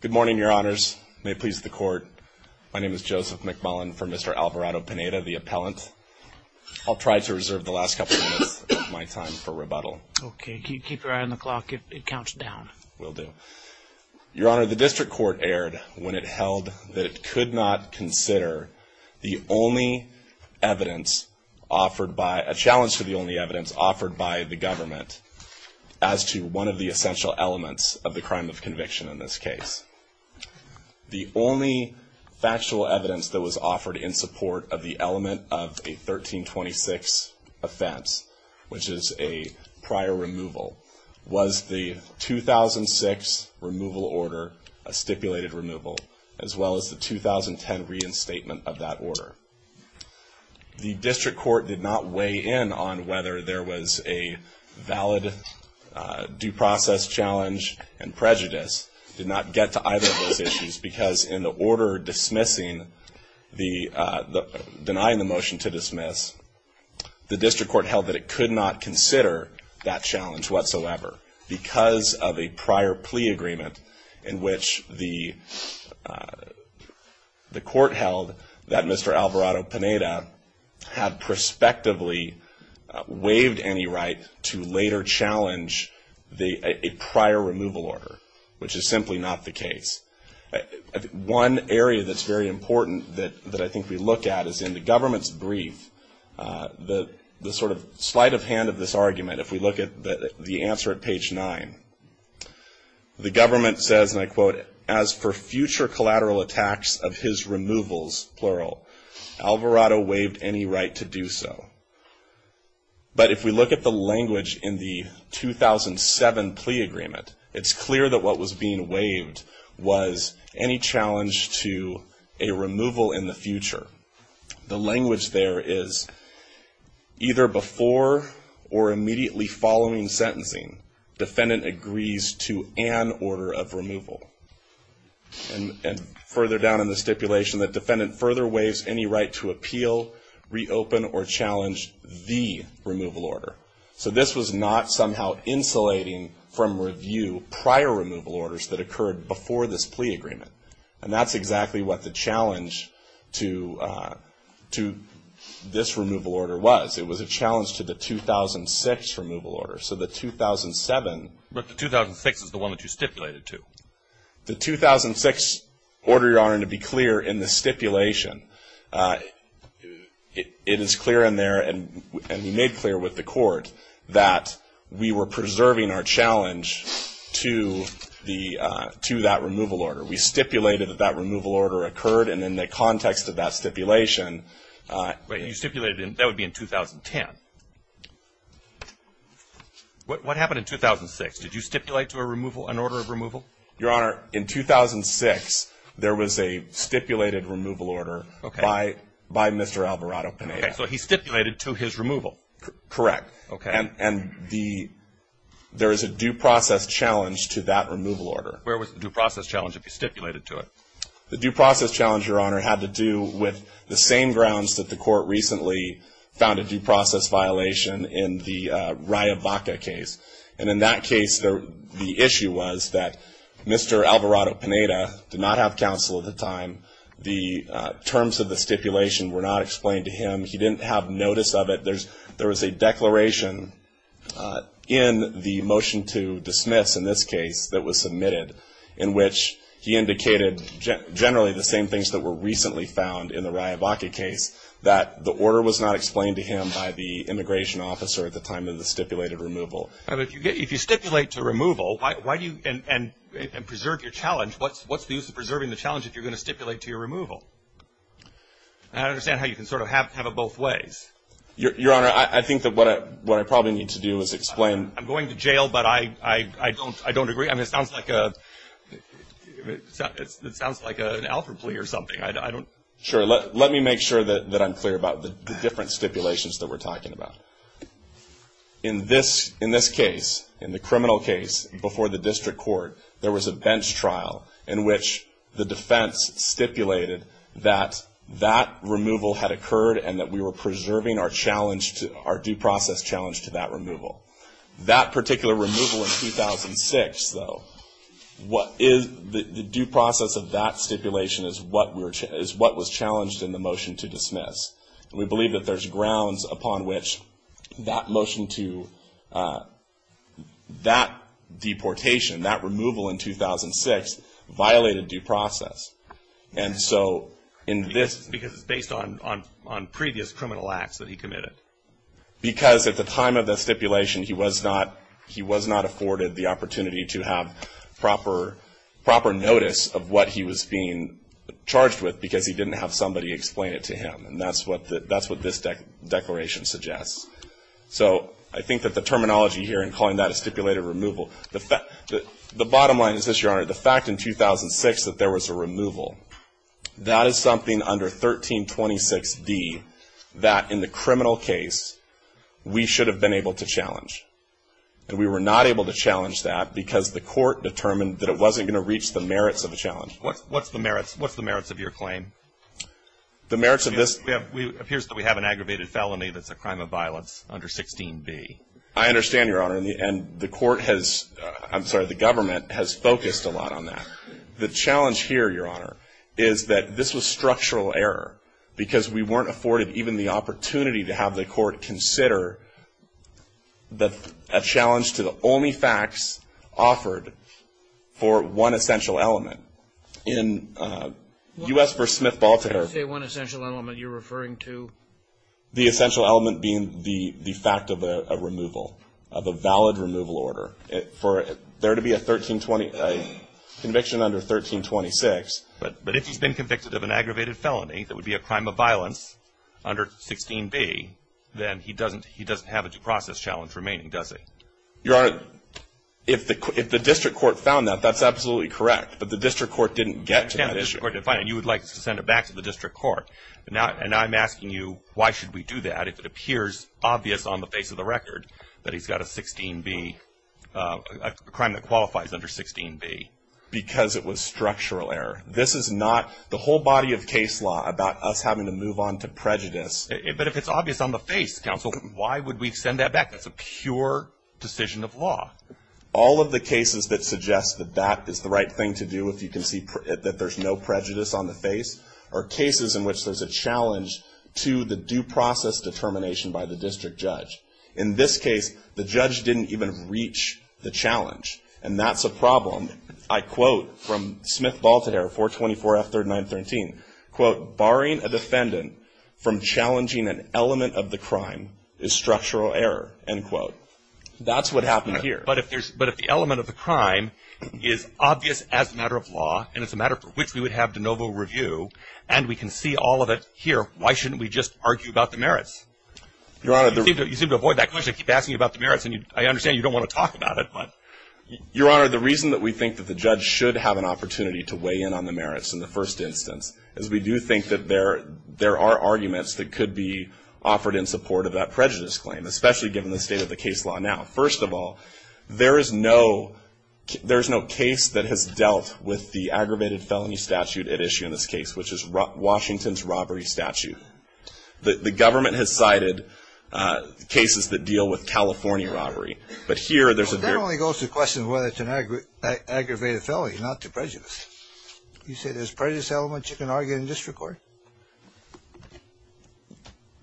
Good morning, your honors. May it please the court. My name is Joseph McMullen for Mr. Alvarado-Pineda, the appellant. I'll try to reserve the last couple of minutes of my time for rebuttal. Okay. Keep your eye on the clock. It counts down. Will do. Your honor, the district court erred when it held that it could not consider the only evidence offered by – the essential elements of the crime of conviction in this case. The only factual evidence that was offered in support of the element of a 1326 offense, which is a prior removal, was the 2006 removal order, a stipulated removal, as well as the 2010 reinstatement of that order. The district court did not weigh in on whether there was a valid due process challenge and prejudice. It did not get to either of those issues because in the order dismissing the – denying the motion to dismiss, the district court held that it could not consider that challenge whatsoever because of a prior plea agreement in which the court held that Mr. Alvarado-Pineda had prospectively waived any right to later challenge a prior removal order, which is simply not the case. One area that's very important that I think we look at is in the government's brief, the sort of sleight of hand of this argument, if we look at the answer at page 9, the government says, and I quote, as for future collateral attacks of his removals, plural, Alvarado waived any right to do so. But if we look at the language in the 2007 plea agreement, it's clear that what was being waived was any challenge to a removal in the future. The language there is either before or immediately following sentencing, defendant agrees to an order of removal. And further down in the stipulation, the defendant further waives any right to appeal, reopen, or challenge the removal order. So this was not somehow insulating from review prior removal orders that occurred before this plea agreement. And that's exactly what the challenge to this removal order was. It was a challenge to the 2006 removal order. So the 2007. But the 2006 is the one that you stipulated to. The 2006 order, Your Honor, to be clear in the stipulation, it is clear in there, and we made clear with the court, that we were preserving our challenge to that removal order. We stipulated that that removal order occurred, and in the context of that stipulation. You stipulated that would be in 2010. What happened in 2006? Did you stipulate to a removal, an order of removal? Your Honor, in 2006, there was a stipulated removal order by Mr. Alvarado Pineda. Okay. So he stipulated to his removal. Correct. Okay. And there is a due process challenge to that removal order. Where was the due process challenge if you stipulated to it? The due process challenge, Your Honor, had to do with the same grounds that the court recently found a due process violation in the Riavaca case. And in that case, the issue was that Mr. Alvarado Pineda did not have counsel at the time. The terms of the stipulation were not explained to him. He didn't have notice of it. There was a declaration in the motion to dismiss, in this case, that was submitted, in which he indicated generally the same things that were recently found in the Riavaca case, that the order was not explained to him by the immigration officer at the time of the stipulated removal. If you stipulate to removal, and preserve your challenge, what's the use of preserving the challenge if you're going to stipulate to your removal? I don't understand how you can sort of have it both ways. Your Honor, I think that what I probably need to do is explain. I'm going to jail, but I don't agree. I mean, it sounds like an alpha plea or something. Sure. Let me make sure that I'm clear about the different stipulations that we're talking about. In this case, in the criminal case, before the district court, there was a bench trial in which the defense stipulated that that removal had occurred and that we were preserving our due process challenge to that removal. That particular removal in 2006, though, the due process of that stipulation is what was challenged in the motion to dismiss. And we believe that there's grounds upon which that motion to that deportation, that removal in 2006, violated due process. And so in this. Because it's based on previous criminal acts that he committed. Because at the time of the stipulation, he was not afforded the opportunity to have proper notice of what he was being charged with because he didn't have somebody explain it to him. And that's what this declaration suggests. So I think that the terminology here in calling that a stipulated removal. The bottom line is this, Your Honor. The fact in 2006 that there was a removal, that is something under 1326D that in the criminal case we should have been able to challenge. And we were not able to challenge that because the court determined that it wasn't going to reach the merits of the challenge. What's the merits of your claim? The merits of this. It appears that we have an aggravated felony that's a crime of violence under 16B. I understand, Your Honor. And the court has, I'm sorry, the government has focused a lot on that. The challenge here, Your Honor, is that this was structural error. Because we weren't afforded even the opportunity to have the court consider a challenge to the only facts offered for one essential element. In U.S. v. Smith-Baltimore. When you say one essential element, you're referring to? The essential element being the fact of a removal, of a valid removal order. For there to be a conviction under 1326. But if he's been convicted of an aggravated felony that would be a crime of violence under 16B, then he doesn't have a process challenge remaining, does he? Your Honor, if the district court found that, that's absolutely correct. But the district court didn't get to that issue. And you would like to send it back to the district court. And I'm asking you, why should we do that if it appears obvious on the face of the record that he's got a 16B, a crime that qualifies under 16B? Because it was structural error. This is not the whole body of case law about us having to move on to prejudice. But if it's obvious on the face, counsel, why would we send that back? That's a pure decision of law. All of the cases that suggest that that is the right thing to do if you can see that there's no prejudice on the face are cases in which there's a challenge to the due process determination by the district judge. In this case, the judge didn't even reach the challenge. And that's a problem. I quote from Smith-Voltaire, 424F3913, quote, barring a defendant from challenging an element of the crime is structural error, end quote. That's what happened here. But if there's – but if the element of the crime is obvious as a matter of law, and it's a matter for which we would have de novo review, and we can see all of it here, why shouldn't we just argue about the merits? Your Honor, the – You seem to avoid that question. I keep asking you about the merits, and I understand you don't want to talk about it, but – Your Honor, the reason that we think that the judge should have an opportunity to weigh in on the merits in the first instance is we do think that there are arguments that could be offered in support of that prejudice claim, especially given the state of the case law now. First of all, there is no – there is no case that has dealt with the aggravated felony statute at issue in this case, which is Washington's robbery statute. The government has cited cases that deal with California robbery. But here, there's a – Well, that only goes to question whether it's an aggravated felony, not to prejudice. You say there's prejudice elements you can argue in district court?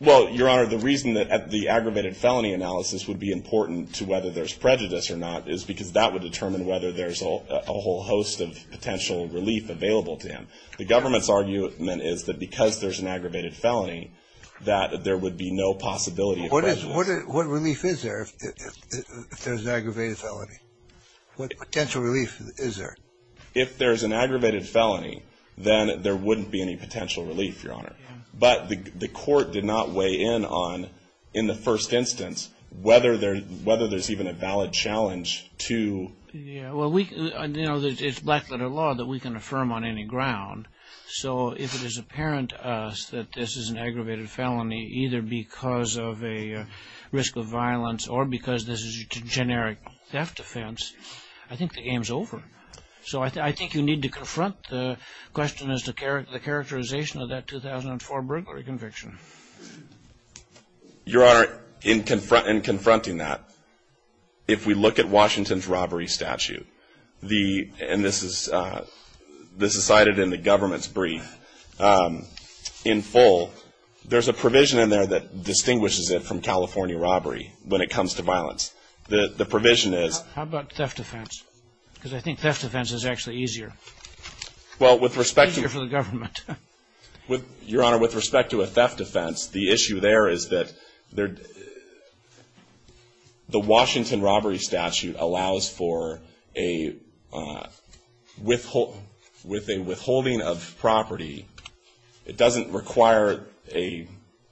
Well, Your Honor, the reason that the aggravated felony analysis would be important to whether there's prejudice or not is because that would determine whether there's a whole host of potential relief available to him. The government's argument is that because there's an aggravated felony, that there would be no possibility of prejudice. What is – what relief is there if there's an aggravated felony? What potential relief is there? If there's an aggravated felony, then there wouldn't be any potential relief, Your Honor. But the court did not weigh in on, in the first instance, whether there's even a valid challenge to – Yeah, well, we – you know, it's black-letter law that we can affirm on any ground. So if it is apparent to us that this is an aggravated felony either because of a risk of violence or because this is a generic theft offense, I think the game's over. So I think you need to confront the question as to the characterization of that 2004 burglary conviction. Your Honor, in confronting that, if we look at Washington's robbery statute, and this is cited in the government's brief in full, there's a provision in there that distinguishes it from California robbery. When it comes to violence, the provision is – How about theft offense? Because I think theft offense is actually easier. Well, with respect to – Easier for the government. Your Honor, with respect to a theft offense, the issue there is that there – the Washington robbery statute allows for a withhold – with a withholding of property. It doesn't require a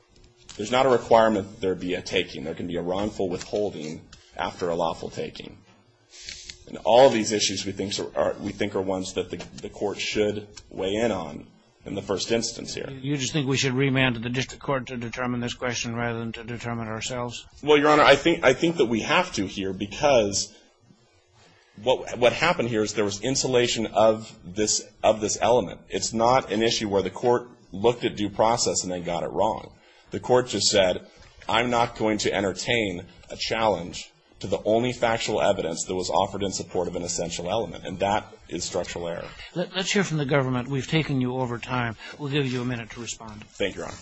– there's not a requirement there be a taking. There can be a wrongful withholding after a lawful taking. And all of these issues we think are ones that the court should weigh in on in the first instance here. You just think we should remand the district court to determine this question rather than to determine ourselves? Well, Your Honor, I think that we have to here because what happened here is there was insulation of this element. It's not an issue where the court looked at due process and they got it wrong. The court just said I'm not going to entertain a challenge to the only factual evidence that was offered in support of an essential element, and that is structural error. Let's hear from the government. We've taken you over time. We'll give you a minute to respond. Thank you, Your Honor.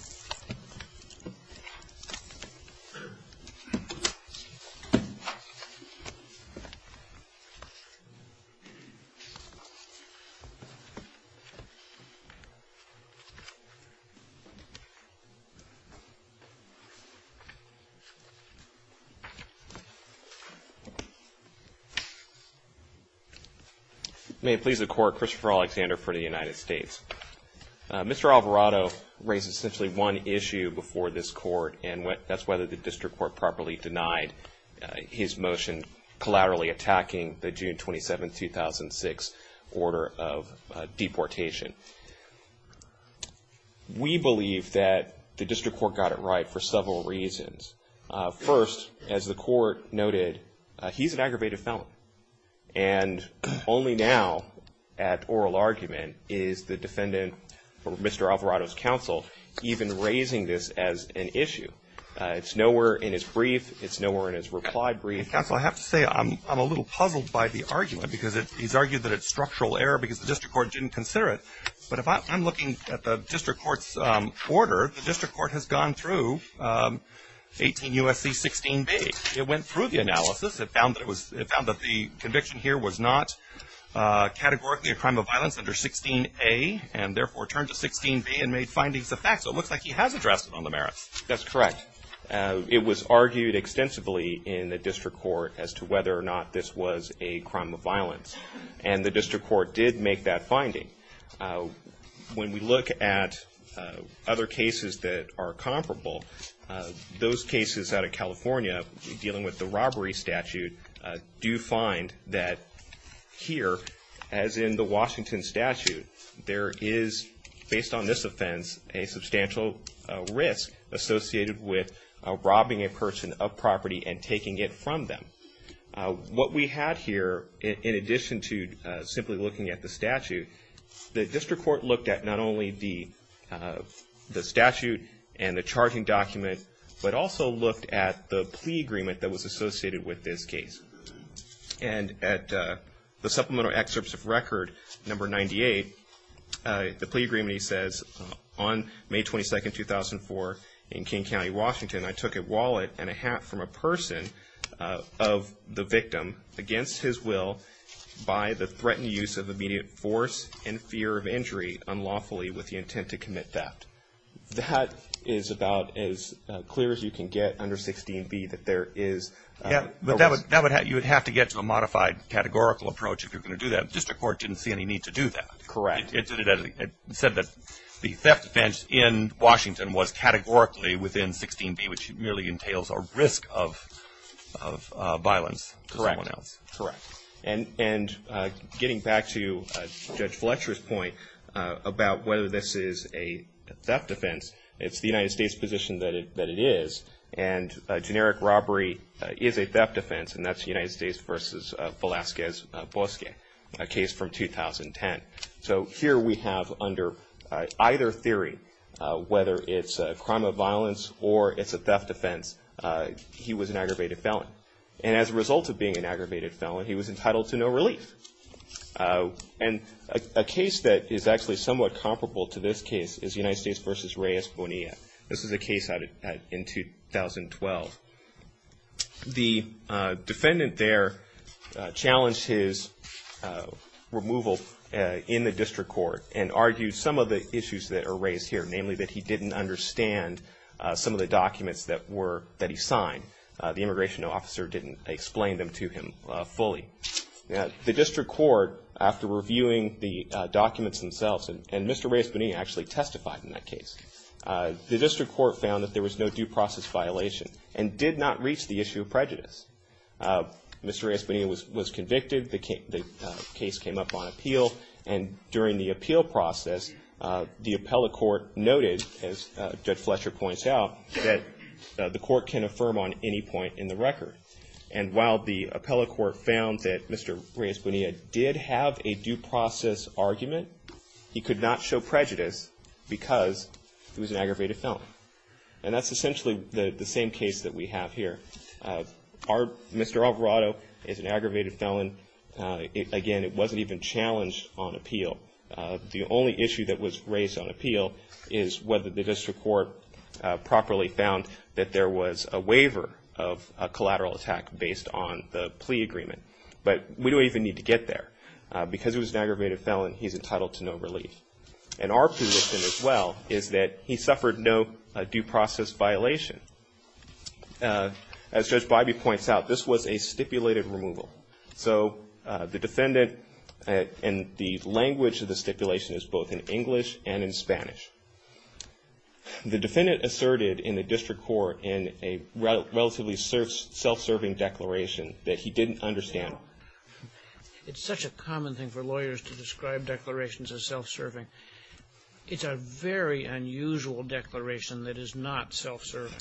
May it please the Court. Christopher Alexander for the United States. Mr. Alvarado raised essentially one issue before this court, and that's whether the district court properly denied his motion collaterally attacking the June 27, 2006, order of deportation. We believe that the district court got it right for several reasons. First, as the court noted, he's an aggravated felon, and only now at oral argument is the defendant or Mr. Alvarado's counsel even raising this as an issue. It's nowhere in his brief. It's nowhere in his reply brief. Counsel, I have to say I'm a little puzzled by the argument because he's argued that it's structural error because the district court didn't consider it. But if I'm looking at the district court's order, the district court has gone through 18 U.S.C. 16B. It went through the analysis. It found that the conviction here was not categorically a crime of violence under 16A and therefore turned to 16B and made findings of fact. So it looks like he has addressed it on the merits. That's correct. It was argued extensively in the district court as to whether or not this was a crime of violence, and the district court did make that finding. When we look at other cases that are comparable, those cases out of California dealing with the robbery statute do find that here, as in the Washington statute, there is, based on this offense, a substantial risk associated with robbing a person of property and taking it from them. What we had here, in addition to simply looking at the statute, the district court looked at not only the statute and the charging document, but also looked at the plea agreement that was associated with this case. And at the supplemental excerpts of record number 98, the plea agreement, he says, on May 22, 2004, in King County, Washington, I took a wallet and a hat from a person of the victim against his will by the threatened use of immediate force and fear of injury unlawfully with the intent to commit theft. That is about as clear as you can get under 16B that there is a risk. Yeah, but you would have to get to a modified categorical approach if you're going to do that. The district court didn't see any need to do that. Correct. It said that the theft offense in Washington was categorically within 16B, which merely entails a risk of violence to someone else. Correct. Correct. And getting back to Judge Fletcher's point about whether this is a theft offense, it's the United States position that it is, and generic robbery is a theft offense, and that's United States v. Velazquez-Bosque, a case from 2010. So here we have under either theory, whether it's a crime of violence or it's a theft offense, he was an aggravated felon. And as a result of being an aggravated felon, he was entitled to no relief. And a case that is actually somewhat comparable to this case is United States v. Reyes-Bonilla. This was a case in 2012. The defendant there challenged his removal in the district court and argued some of the issues that are raised here, namely that he didn't understand some of the documents that he signed. The immigration officer didn't explain them to him fully. The district court, after reviewing the documents themselves, and Mr. Reyes-Bonilla actually testified in that case, the district court found that there was no due process violation and did not reach the issue of prejudice. Mr. Reyes-Bonilla was convicted. The case came up on appeal. And during the appeal process, the appellate court noted, as Judge Fletcher points out, that the court can affirm on any point in the record. And while the appellate court found that Mr. Reyes-Bonilla did have a due process argument, he could not show prejudice because he was an aggravated felon. And that's essentially the same case that we have here. Mr. Alvarado is an aggravated felon. Again, it wasn't even challenged on appeal. The only issue that was raised on appeal is whether the district court properly found that there was a waiver of a collateral attack based on the plea agreement. But we don't even need to get there. Because he was an aggravated felon, he's entitled to no relief. And our position as well is that he suffered no due process violation. As Judge Bybee points out, this was a stipulated removal. So the defendant and the language of the stipulation is both in English and in Spanish. The defendant asserted in the district court in a relatively self-serving declaration that he didn't understand. It's such a common thing for lawyers to describe declarations as self-serving. It's a very unusual declaration that is not self-serving.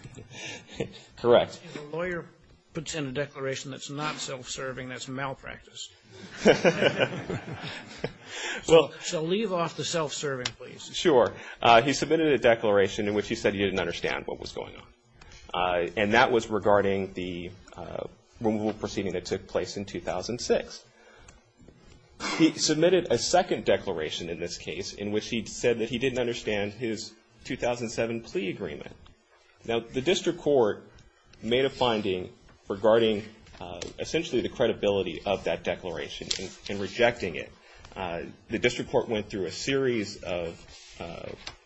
Correct. If a lawyer puts in a declaration that's not self-serving, that's malpractice. So leave off the self-serving, please. Sure. He submitted a declaration in which he said he didn't understand what was going on. And that was regarding the removal proceeding that took place in 2006. He submitted a second declaration in this case in which he said that he didn't understand his 2007 plea agreement. Now, the district court made a finding regarding essentially the credibility of that declaration and rejecting it. The district court went through a series of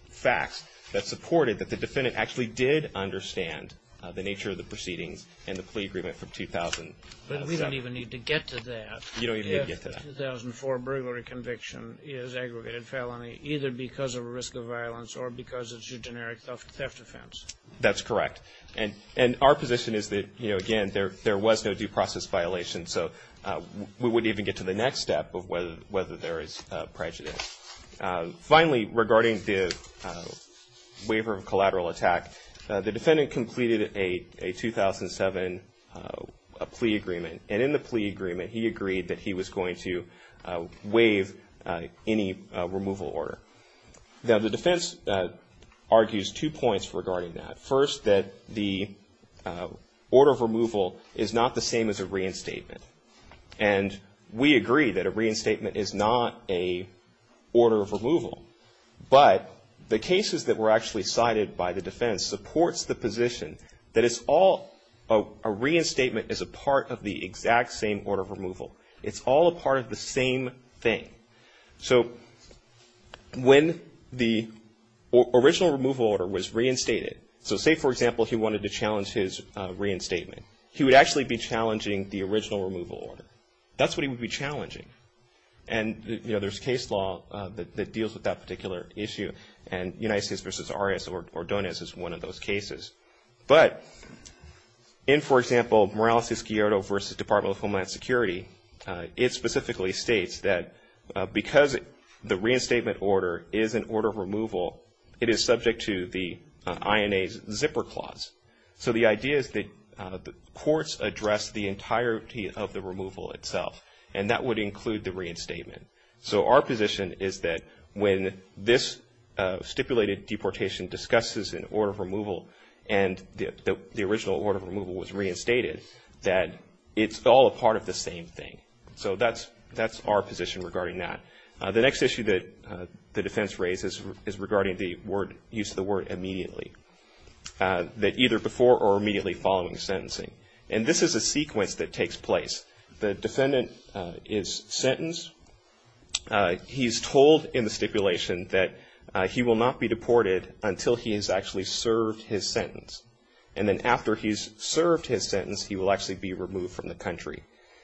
facts that supported that the defendant actually did understand the nature of the proceedings and the plea agreement from 2007. But we don't even need to get to that. You don't even need to get to that. If the 2004 burglary conviction is aggregated felony, either because of a risk of violence or because it's a generic theft offense. That's correct. And our position is that, you know, again, there was no due process violation. So we wouldn't even get to the next step of whether there is prejudice. Finally, regarding the waiver of collateral attack, the defendant completed a 2007 plea agreement. And in the plea agreement, he agreed that he was going to waive any removal order. Now, the defense argues two points regarding that. First, that the order of removal is not the same as a reinstatement. And we agree that a reinstatement is not a order of removal. But the cases that were actually cited by the defense supports the position that it's all a reinstatement is a part of the exact same order of removal. It's all a part of the same thing. So when the original removal order was reinstated, so say, for example, he wanted to challenge his reinstatement, he would actually be challenging the original removal order. That's what he would be challenging. And, you know, there's case law that deals with that particular issue, and United States v. Arias-Ordonez is one of those cases. But in, for example, Morales v. Scioto v. Department of Homeland Security, it specifically states that because the reinstatement order is an order of removal, it is subject to the INA's zipper clause. So the idea is that courts address the entirety of the removal itself, and that would include the reinstatement. So our position is that when this stipulated deportation discusses an order of removal and the original order of removal was reinstated, that it's all a part of the same thing. So that's our position regarding that. The next issue that the defense raises is regarding the use of the word immediately, that either before or immediately following sentencing. And this is a sequence that takes place. The defendant is sentenced. He's told in the stipulation that he will not be deported until he has actually served his sentence. And then after he's served his sentence, he will actually be removed from the country.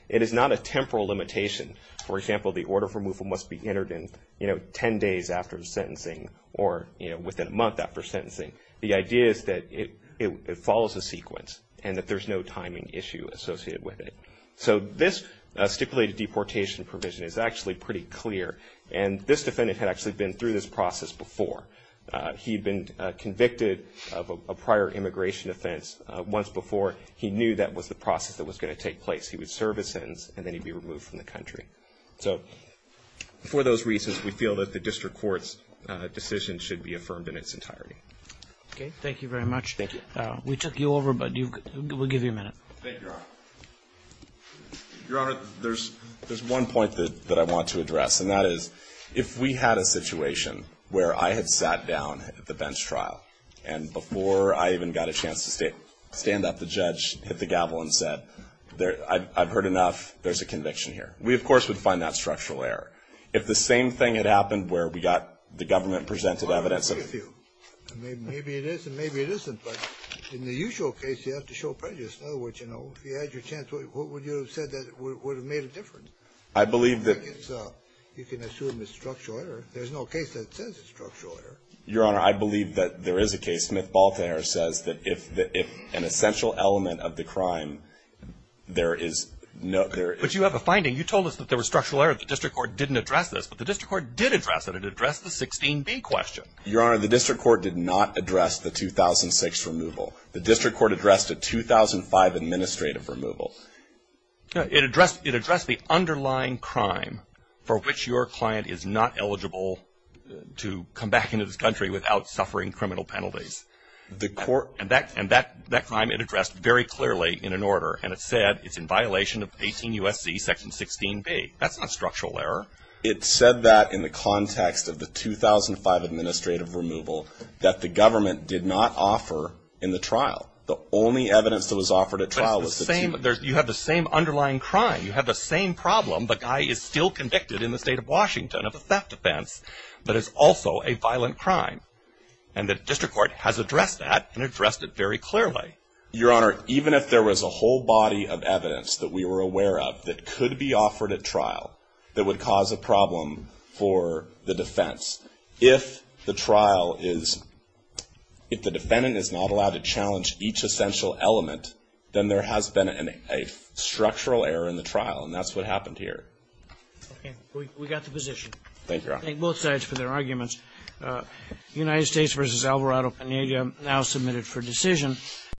It is not a temporal limitation. For example, the order of removal must be entered in, you know, 10 days after the sentencing or, you know, within a month after sentencing. The idea is that it follows a sequence and that there's no timing issue associated with it. So this stipulated deportation provision is actually pretty clear. And this defendant had actually been through this process before. He had been convicted of a prior immigration offense once before. He knew that was the process that was going to take place. He would serve his sentence and then he'd be removed from the country. So for those reasons, we feel that the district court's decision should be affirmed in its entirety. Okay. Thank you very much. Thank you. We took you over, but we'll give you a minute. Thank you, Your Honor. Your Honor, there's one point that I want to address, and that is if we had a situation where I had sat down at the bench trial and before I even got a chance to stand up, the judge hit the gavel and said, I've heard enough. There's a conviction here. We, of course, would find that structural error. If the same thing had happened where we got the government presented evidence of you. Maybe it is and maybe it isn't, but in the usual case, you have to show prejudice. In other words, if you had your chance, what would you have said that would have made a difference? I believe that. You can assume it's structural error. There's no case that says it's structural error. Your Honor, I believe that there is a case. Smith-Boltaire says that if an essential element of the crime, there is no ‑‑ But you have a finding. You told us that there was structural error. The district court didn't address this, but the district court did address it. It addressed the 16B question. Your Honor, the district court did not address the 2006 removal. The district court addressed the 2005 administrative removal. It addressed the underlying crime for which your client is not eligible to come back into this country without suffering criminal penalties. And that crime it addressed very clearly in an order, and it said it's in violation of 18 U.S.C. section 16B. That's not structural error. It said that in the context of the 2005 administrative removal that the government did not offer in the trial. The only evidence that was offered at trial was the ‑‑ But it's the same. You have the same underlying crime. You have the same problem. The guy is still convicted in the state of Washington of a theft offense, but it's also a violent crime. And the district court has addressed that and addressed it very clearly. Your Honor, even if there was a whole body of evidence that we were aware of that could be offered at trial that would cause a problem for the defense, if the trial is ‑‑ if the defendant is not allowed to challenge each essential element, then there has been a structural error in the trial, and that's what happened here. Okay. We got the position. Thank you, Your Honor. I thank both sides for their arguments. United States v. Alvarado Peneda now submitted for decision.